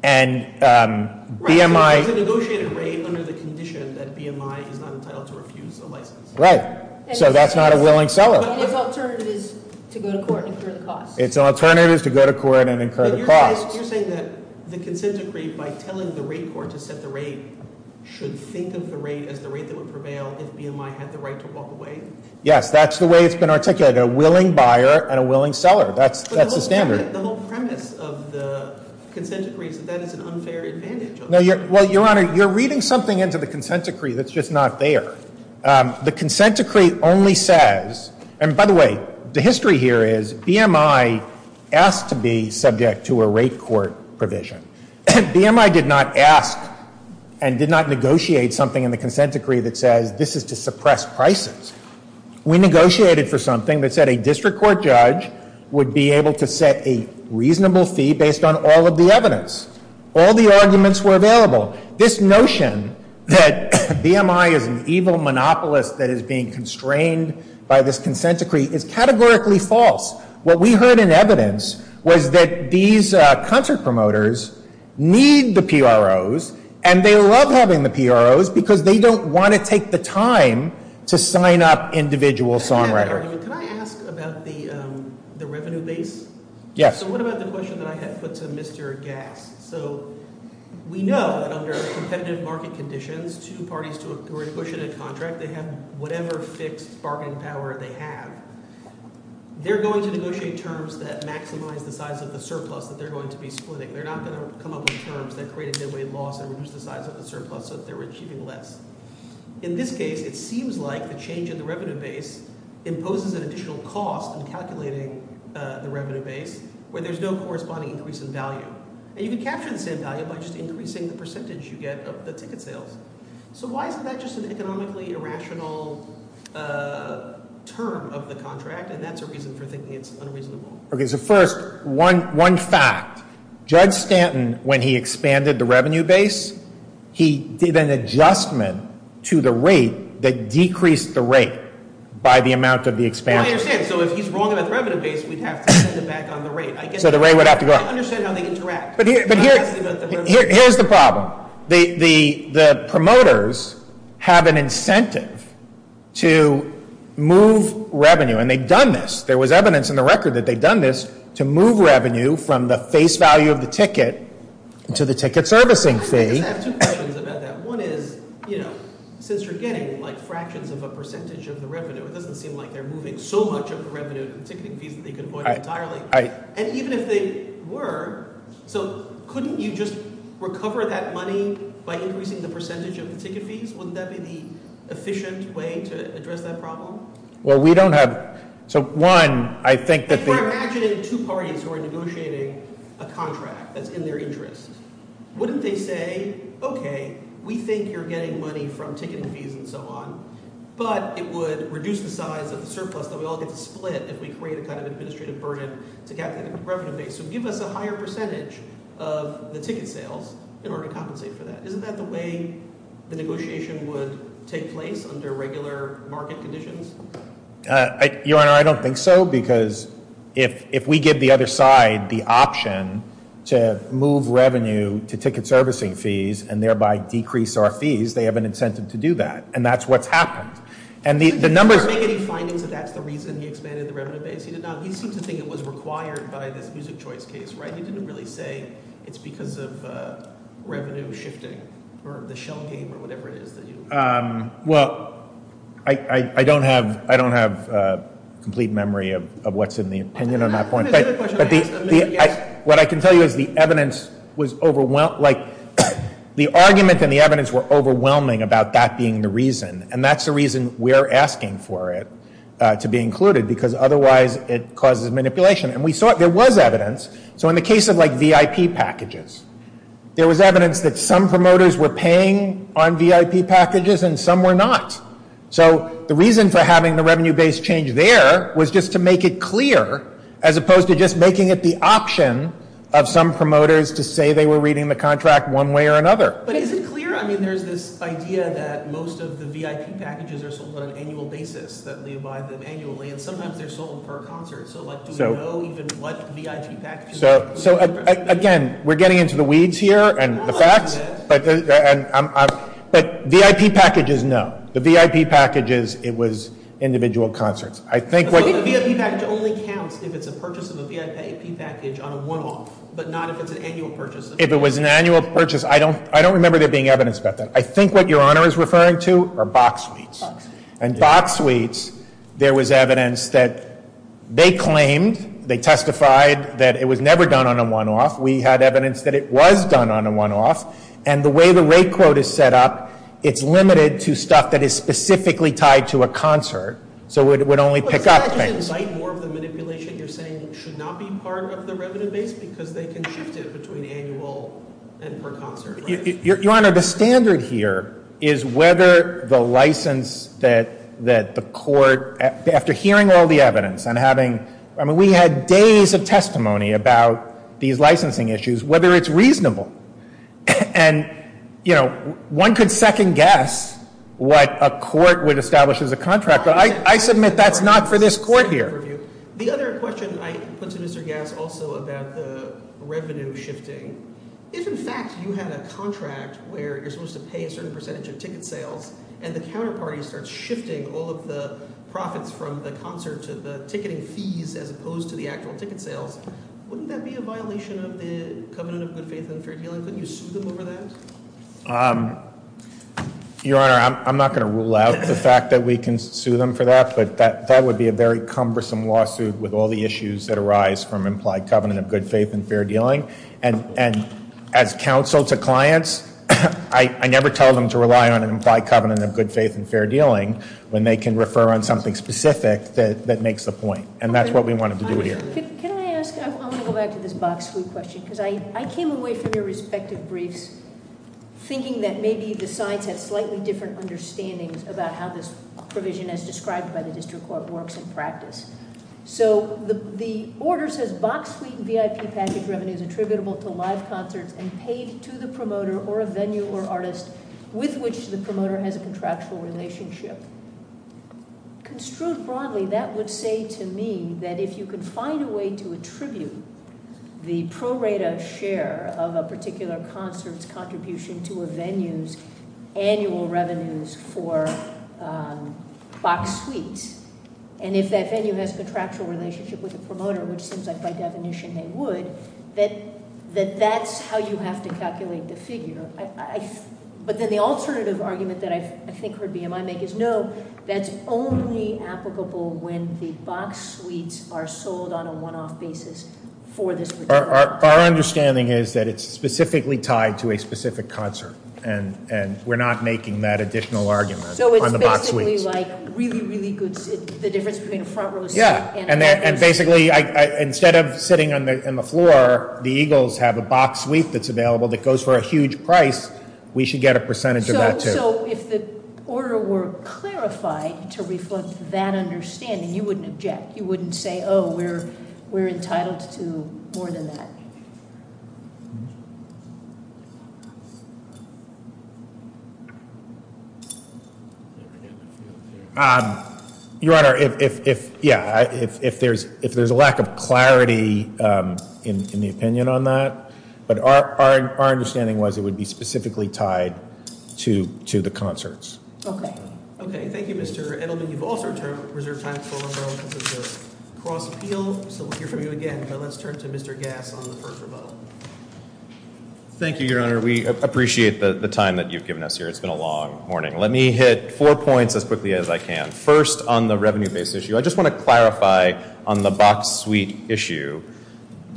And BMI- Right, so it's a negotiated rate under the condition that BMI is not entitled to refuse a license. Right. So that's not a willing seller. And it's alternatives to go to court and incur the cost. It's alternatives to go to court and incur the cost. You're saying that the consent decree, by telling the rate court to set the rate, should think of the rate as the rate that would prevail if BMI had the right to walk away? Yes, that's the way it's been articulated, a willing buyer and a willing seller. That's the standard. The whole premise of the consent decree is that that is an unfair advantage. Well, Your Honor, you're reading something into the consent decree that's just not there. The consent decree only says, and by the way, the history here is BMI asked to be subject to a rate court provision. BMI did not ask and did not negotiate something in the consent decree that says this is to suppress prices. We negotiated for something that said a district court judge would be able to set a reasonable fee based on all of the evidence. All the arguments were available. This notion that BMI is an evil monopolist that is being constrained by this consent decree is categorically false. What we heard in evidence was that these concert promoters need the PROs, and they love having the PROs because they don't want to take the time to sign up individual songwriters. Can I ask about the revenue base? Yes. So what about the question that I had put to Mr. Gass? So we know that under competitive market conditions, two parties to agree to push in a contract, they have whatever fixed bargaining power they have. They're going to negotiate terms that maximize the size of the surplus that they're going to be splitting. They're not going to come up with terms that create a midway loss and reduce the size of the surplus so that they're achieving less. In this case, it seems like the change in the revenue base imposes an additional cost in calculating the revenue base where there's no corresponding increase in value. And you can capture the same value by just increasing the percentage you get of the ticket sales. So why isn't that just an economically irrational term of the contract? And that's a reason for thinking it's unreasonable. Okay, so first, one fact. Judge Stanton, when he expanded the revenue base, he did an adjustment to the rate that decreased the rate by the amount of the expansion. I understand. So if he's wrong about the revenue base, we'd have to send it back on the rate. So the rate would have to go up. I understand how they interact. But here's the problem. The promoters have an incentive to move revenue, and they've done this. There was evidence in the record that they've done this to move revenue from the face value of the ticket to the ticket servicing fee. I just have two questions about that. One is, you know, since you're getting, like, fractions of a percentage of the revenue, it doesn't seem like they're moving so much of the revenue and ticketing fees that they could avoid entirely. And even if they were, so couldn't you just recover that money by increasing the percentage of the ticket fees? Wouldn't that be the efficient way to address that problem? Well, we don't have, so one, I think that the- If we're imagining two parties who are negotiating a contract that's in their interest, wouldn't they say, okay, we think you're getting money from ticket fees and so on, but it would reduce the size of the surplus that we all get to split if we create a kind of administrative burden to calculate the revenue base, so give us a higher percentage of the ticket sales in order to compensate for that. Isn't that the way the negotiation would take place under regular market conditions? Your Honor, I don't think so, because if we give the other side the option to move revenue to ticket servicing fees and thereby decrease our fees, they have an incentive to do that. And that's what's happened. And the numbers- Did he make any findings that that's the reason he expanded the revenue base? He did not. He seems to think it was required by this music choice case, right? He didn't really say it's because of revenue shifting or the shell game or whatever it is that you- Well, I don't have complete memory of what's in the opinion on that point. But what I can tell you is the evidence was overwhelming. Like, the argument and the evidence were overwhelming about that being the reason, and that's the reason we're asking for it to be included, because otherwise it causes manipulation. And we saw it. There was evidence. So in the case of, like, VIP packages, there was evidence that some promoters were paying on VIP packages and some were not. So the reason for having the revenue base change there was just to make it clear, as opposed to just making it the option of some promoters to say they were reading the contract one way or another. But is it clear? I mean, there's this idea that most of the VIP packages are sold on an annual basis, that we buy them annually, and sometimes they're sold per concert. So, like, do we know even what VIP packages- So, again, we're getting into the weeds here and the facts. But VIP packages, no. The VIP packages, it was individual concerts. I think what- The VIP package only counts if it's a purchase of a VIP package on a one-off, but not if it's an annual purchase. If it was an annual purchase, I don't remember there being evidence about that. I think what Your Honor is referring to are box suites. Box suites. There was evidence that they claimed, they testified, that it was never done on a one-off. We had evidence that it was done on a one-off. And the way the rate quote is set up, it's limited to stuff that is specifically tied to a concert. So it would only pick up things. But doesn't that just invite more of the manipulation? You're saying it should not be part of the revenue base because they can shift it between annual and per concert, right? Your Honor, the standard here is whether the license that the court, after hearing all the evidence and having, I mean, we had days of testimony about these licensing issues, whether it's reasonable. And, you know, one could second guess what a court would establish as a contract. But I submit that's not for this Court here. The other question I put to Mr. Gass also about the revenue shifting. If, in fact, you had a contract where you're supposed to pay a certain percentage of ticket sales, and the counterparty starts shifting all of the profits from the concert to the ticketing fees as opposed to the actual ticket sales, wouldn't that be a violation of the covenant of good faith and fair dealing? Couldn't you sue them over that? Your Honor, I'm not going to rule out the fact that we can sue them for that. But that would be a very cumbersome lawsuit with all the issues that arise from implied covenant of good faith and fair dealing. And as counsel to clients, I never tell them to rely on an implied covenant of good faith and fair dealing when they can refer on something specific that makes the point. And that's what we wanted to do here. Can I ask, I want to go back to this Box Suite question, because I came away from your respective briefs thinking that maybe the sides had slightly different understandings about how this provision, as described by the district court, works in practice. So the order says Box Suite VIP package revenue is attributable to live concerts and paid to the promoter or a venue or artist with which the promoter has a contractual relationship. Construed broadly, that would say to me that if you could find a way to attribute the pro rata share of a particular concert's contribution to a venue's annual revenues for Box Suite, and if that venue has a contractual relationship with the promoter, which seems like by definition they would, that that's how you have to calculate the figure. But then the alternative argument that I think BMI would make is no, that's only applicable when the Box Suites are sold on a one-off basis for this particular- Our understanding is that it's specifically tied to a specific concert, and we're not making that additional argument on the Box Suites. So it's basically like really, really good, the difference between a front row seat and a back row seat. And basically, instead of sitting on the floor, the Eagles have a Box Suite that's available that goes for a huge price. We should get a percentage of that, too. So if the order were clarified to reflect that understanding, you wouldn't object? You wouldn't say, oh, we're entitled to more than that? Your Honor, if, yeah, if there's a lack of clarity in the opinion on that, but our understanding was it would be specifically tied to the concerts. Okay. Okay, thank you, Mr. Edelman. You've also reserved time for a moment of cross-appeal, so we'll hear from you again. But let's turn to Mr. Gass on the first rebuttal. Thank you, Your Honor. We appreciate the time that you've given us here. It's been a long morning. Let me hit four points as quickly as I can. First, on the revenue-based issue, I just want to clarify on the Box Suite issue.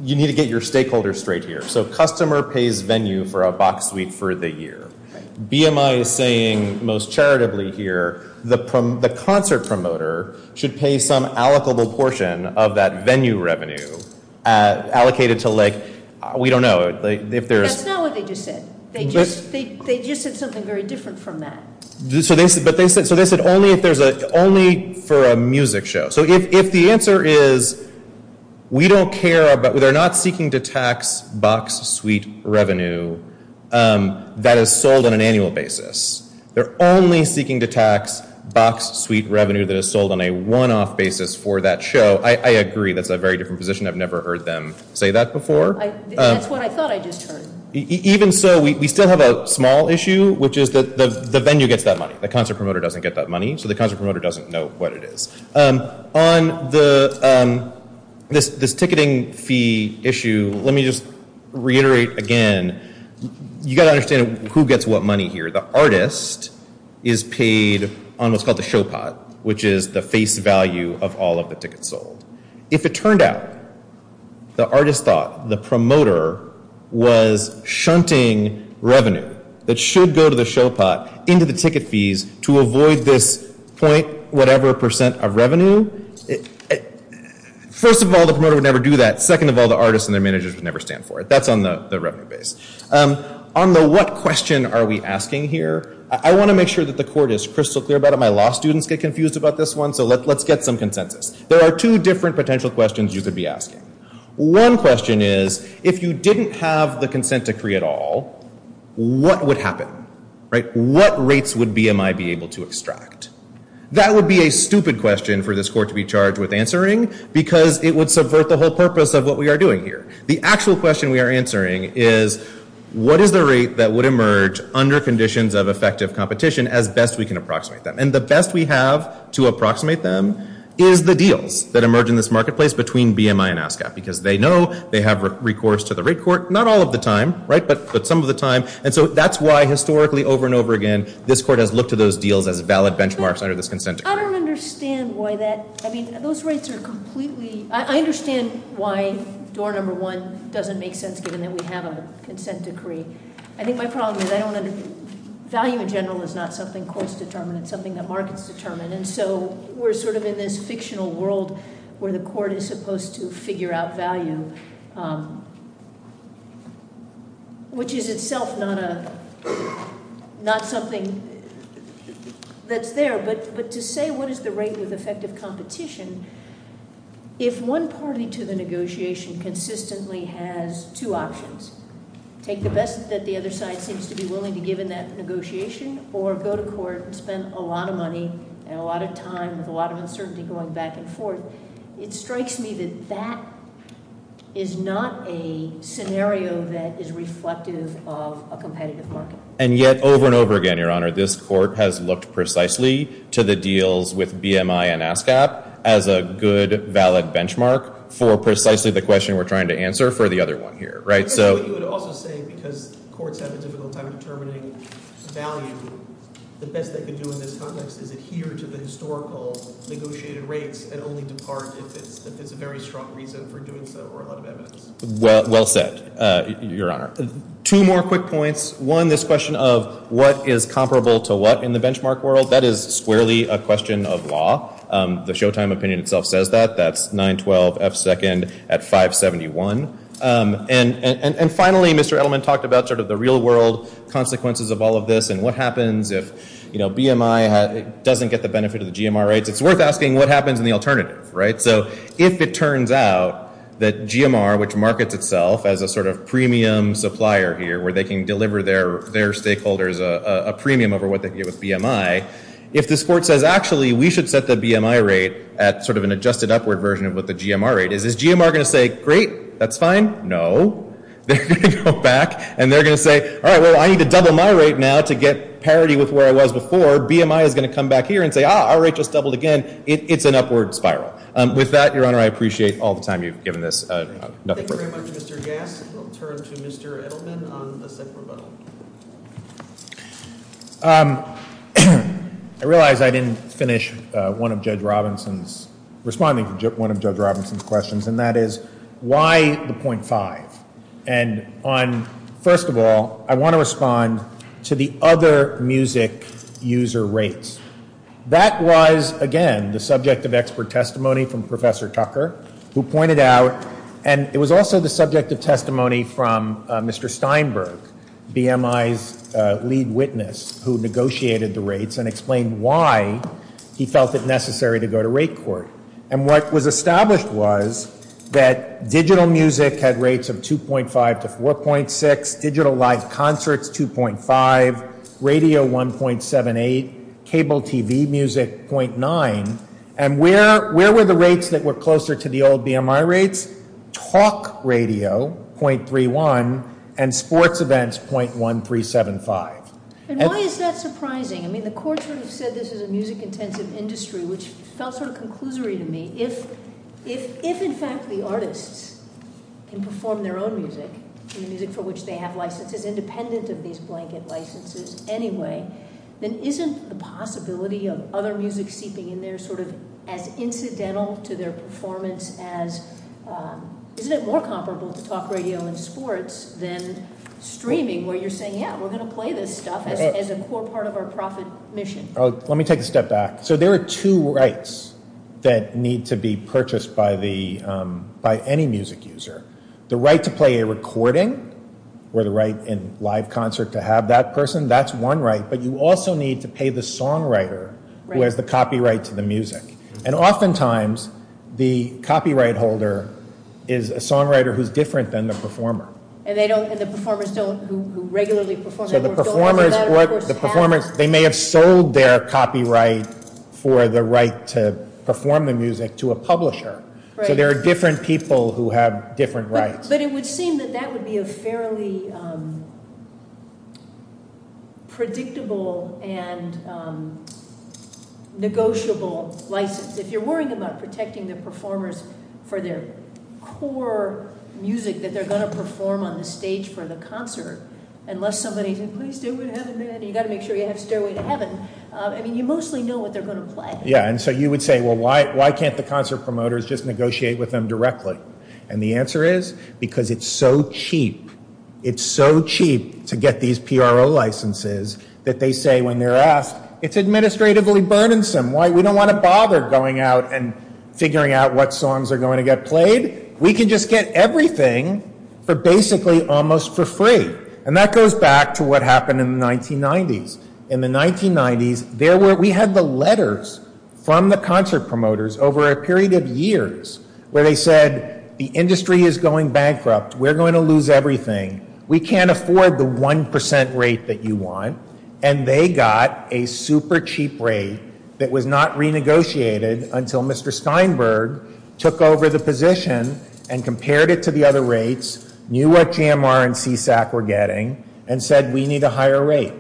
You need to get your stakeholders straight here. So customer pays venue for a Box Suite for the year. BMI is saying, most charitably here, the concert promoter should pay some allocable portion of that venue revenue allocated to, like, we don't know. That's not what they just said. They just said something very different from that. So they said only for a music show. So if the answer is, we don't care, they're not seeking to tax Box Suite revenue that is sold on an annual basis. They're only seeking to tax Box Suite revenue that is sold on a one-off basis for that show. I agree that's a very different position. I've never heard them say that before. That's what I thought I just heard. Even so, we still have a small issue, which is that the venue gets that money. The concert promoter doesn't get that money, so the concert promoter doesn't know what it is. On this ticketing fee issue, let me just reiterate again. You've got to understand who gets what money here. The artist is paid on what's called the show pot, which is the face value of all of the tickets sold. If it turned out the artist thought the promoter was shunting revenue that should go to the show pot into the ticket fees to avoid this point-whatever percent of revenue, first of all, the promoter would never do that. Second of all, the artist and their managers would never stand for it. That's on the revenue base. On the what question are we asking here, I want to make sure that the court is crystal clear about it. My law students get confused about this one, so let's get some consensus. There are two different potential questions you could be asking. One question is, if you didn't have the consent decree at all, what would happen? What rates would BMI be able to extract? That would be a stupid question for this court to be charged with answering, because it would subvert the whole purpose of what we are doing here. The actual question we are answering is, what is the rate that would emerge under conditions of effective competition as best we can approximate them? And the best we have to approximate them is the deals that emerge in this marketplace between BMI and ASCAP, because they know they have recourse to the rate court, not all of the time, but some of the time. And so that's why, historically, over and over again, this court has looked to those deals as valid benchmarks under this consent decree. I don't understand why that-I mean, those rates are completely-I understand why door number one doesn't make sense, given that we have a consent decree. I think my problem is I don't under-value in general is not something courts determine. It's something that markets determine. And so we're sort of in this fictional world where the court is supposed to figure out value, which is itself not something that's there. But to say what is the rate with effective competition, if one party to the negotiation consistently has two options, take the best that the other side seems to be willing to give in that negotiation, or go to court and spend a lot of money and a lot of time with a lot of uncertainty going back and forth, it strikes me that that is not a scenario that is reflective of a competitive market. And yet, over and over again, Your Honor, this court has looked precisely to the deals with BMI and ASCAP as a good, valid benchmark for precisely the question we're trying to answer for the other one here, right? I guess what you would also say, because courts have a difficult time determining value, the best they can do in this context is adhere to the historical negotiated rates and only depart if it's a very strong reason for doing so or a lot of evidence. Well said, Your Honor. Two more quick points. One, this question of what is comparable to what in the benchmark world, that is squarely a question of law. The Showtime opinion itself says that. That's 912 F-second at 571. And finally, Mr. Edelman talked about sort of the real-world consequences of all of this and what happens if, you know, BMI doesn't get the benefit of the GMR rates. It's worth asking what happens in the alternative, right? So if it turns out that GMR, which markets itself as a sort of premium supplier here, where they can deliver their stakeholders a premium over what they get with BMI, if this court says, actually, we should set the BMI rate at sort of an adjusted upward version of what the GMR rate is, is GMR going to say, great, that's fine? No. They're going to go back and they're going to say, all right, well, I need to double my rate now to get parity with where I was before. BMI is going to come back here and say, ah, our rate just doubled again. It's an upward spiral. With that, Your Honor, I appreciate all the time you've given this. Nothing further. Thank you very much, Mr. Gass. We'll turn to Mr. Edelman on the second rebuttal. I realize I didn't finish one of Judge Robinson's, responding to one of Judge Robinson's questions, and that is, why the .5? And on, first of all, I want to respond to the other music user rates. That was, again, the subject of expert testimony from Professor Tucker, who pointed out, and it was also the subject of testimony from Mr. Steinberg, BMI's lead witness, who negotiated the rates and explained why he felt it necessary to go to rate court. And what was established was that digital music had rates of 2.5 to 4.6, digital live concerts 2.5, radio 1.78, cable TV music .9. And where were the rates that were closer to the old BMI rates? Talk radio, .31, and sports events, .1375. And why is that surprising? I mean, the court sort of said this is a music-intensive industry, which felt sort of conclusory to me. If, in fact, the artists can perform their own music, the music for which they have licenses, independent of these blanket licenses anyway, then isn't the possibility of other music seeping in there sort of as incidental to their performance as, isn't it more comparable to talk radio and sports than streaming, where you're saying, yeah, we're going to play this stuff as a core part of our profit mission? Let me take a step back. So there are two rights that need to be purchased by any music user. The right to play a recording, or the right in live concert to have that person, that's one right. But you also need to pay the songwriter who has the copyright to the music. And oftentimes, the copyright holder is a songwriter who's different than the performer. And they don't, and the performers don't, who regularly perform. So the performers, they may have sold their copyright for the right to perform the music to a publisher. So there are different people who have different rights. But it would seem that that would be a fairly predictable and negotiable license. If you're worrying about protecting the performers for their core music that they're going to perform on the stage for the concert, unless somebody's, please do it, you've got to make sure you have stairway to heaven. I mean, you mostly know what they're going to play. Yeah, and so you would say, well, why can't the concert promoters just negotiate with them directly? And the answer is, because it's so cheap. It's so cheap to get these PRO licenses that they say when they're asked, it's administratively burdensome. We don't want to bother going out and figuring out what songs are going to get played. We can just get everything for basically almost for free. And that goes back to what happened in the 1990s. In the 1990s, we had the letters from the concert promoters over a period of years where they said, the industry is going bankrupt. We're going to lose everything. We can't afford the 1% rate that you want. And they got a super cheap rate that was not renegotiated until Mr. Steinberg took over the position and compared it to the other rates, knew what GMR and CSAC were getting, and said, we need a higher rate.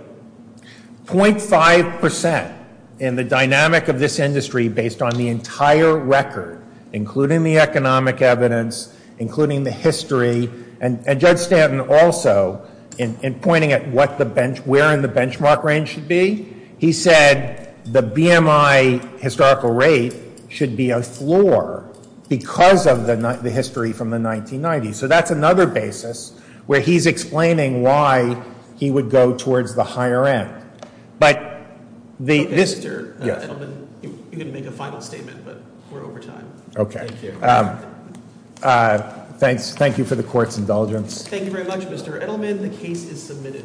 .5% in the dynamic of this industry based on the entire record, including the economic evidence, including the history, and Judge Stanton also, in pointing at where in the benchmark range should be, he said the BMI historical rate should be a floor because of the history from the 1990s. So that's another basis where he's explaining why he would go towards the higher end. But this. Mr. Edelman, you can make a final statement, but we're over time. Okay. Thank you. Thanks. Thank you for the court's indulgence. Thank you very much, Mr. Edelman. The case is submitted.